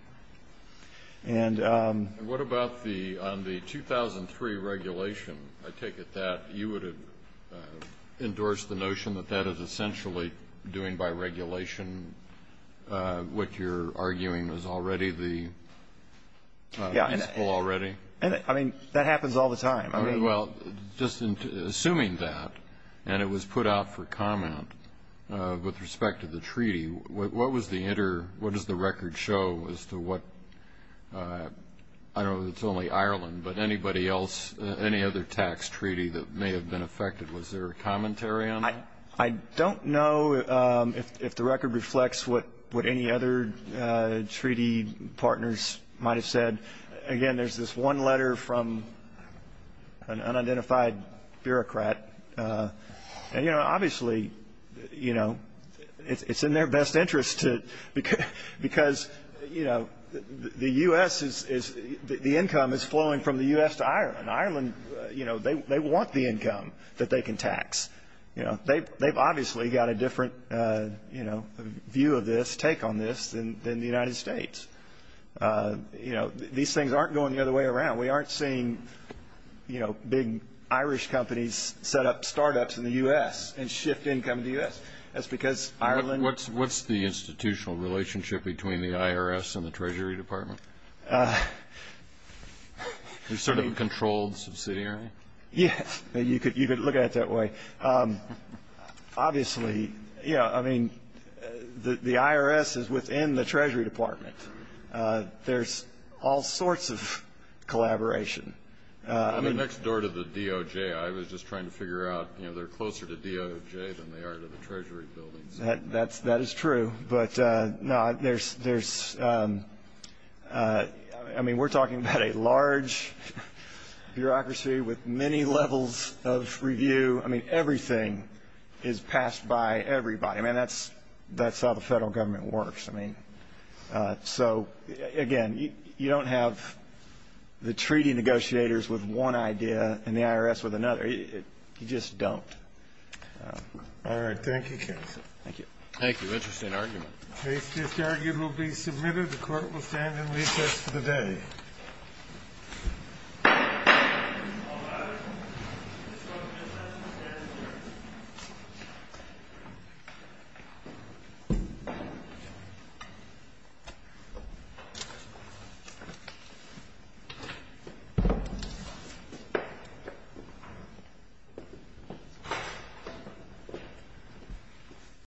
And what about the, on the 2003 regulation, I take it that you would have endorsed the notion that that is essentially doing by regulation what you're arguing is already the principle already? And I mean, that happens all the time. Well, just assuming that, and it was put out for comment with respect to the treaty, what was the inter, what does the record show as to what, I don't know if it's only Ireland, but anybody else, any other tax treaty that may have been affected? Was there a commentary on that? I don't know if the record reflects what, what any other treaty partners might have seen from an unidentified bureaucrat. And, you know, obviously, you know, it's in their best interest to, because, you know, the U.S. is, the income is flowing from the U.S. to Ireland. Ireland, you know, they want the income that they can tax. You know, they've obviously got a different, you know, view of this, take on this than the United States. You know, these things aren't going the other way around. We aren't seeing, you know, big Irish companies set up startups in the U.S. and shift income to the U.S. That's because Ireland. What's, what's the institutional relationship between the IRS and the Treasury Department? We're sort of a controlled subsidiary. Yeah, you could, you could look at it that way. Obviously, you know, I mean, the IRS is within the Treasury Department. There's all sorts of collaboration. On the next door to the DOJ, I was just trying to figure out, you know, they're closer to DOJ than they are to the Treasury buildings. That's, that is true. But, no, there's, there's, I mean, we're talking about a large bureaucracy with many levels of review. I mean, everything is passed by everybody. I mean, that's, that's how the federal government works. I mean, so, again, you don't have the treaty negotiators with one idea and the IRS with another. You just don't. All right. Thank you, counsel. Thank you. Thank you. Interesting argument. Case disargued will be submitted. The court will stand and recess for the day.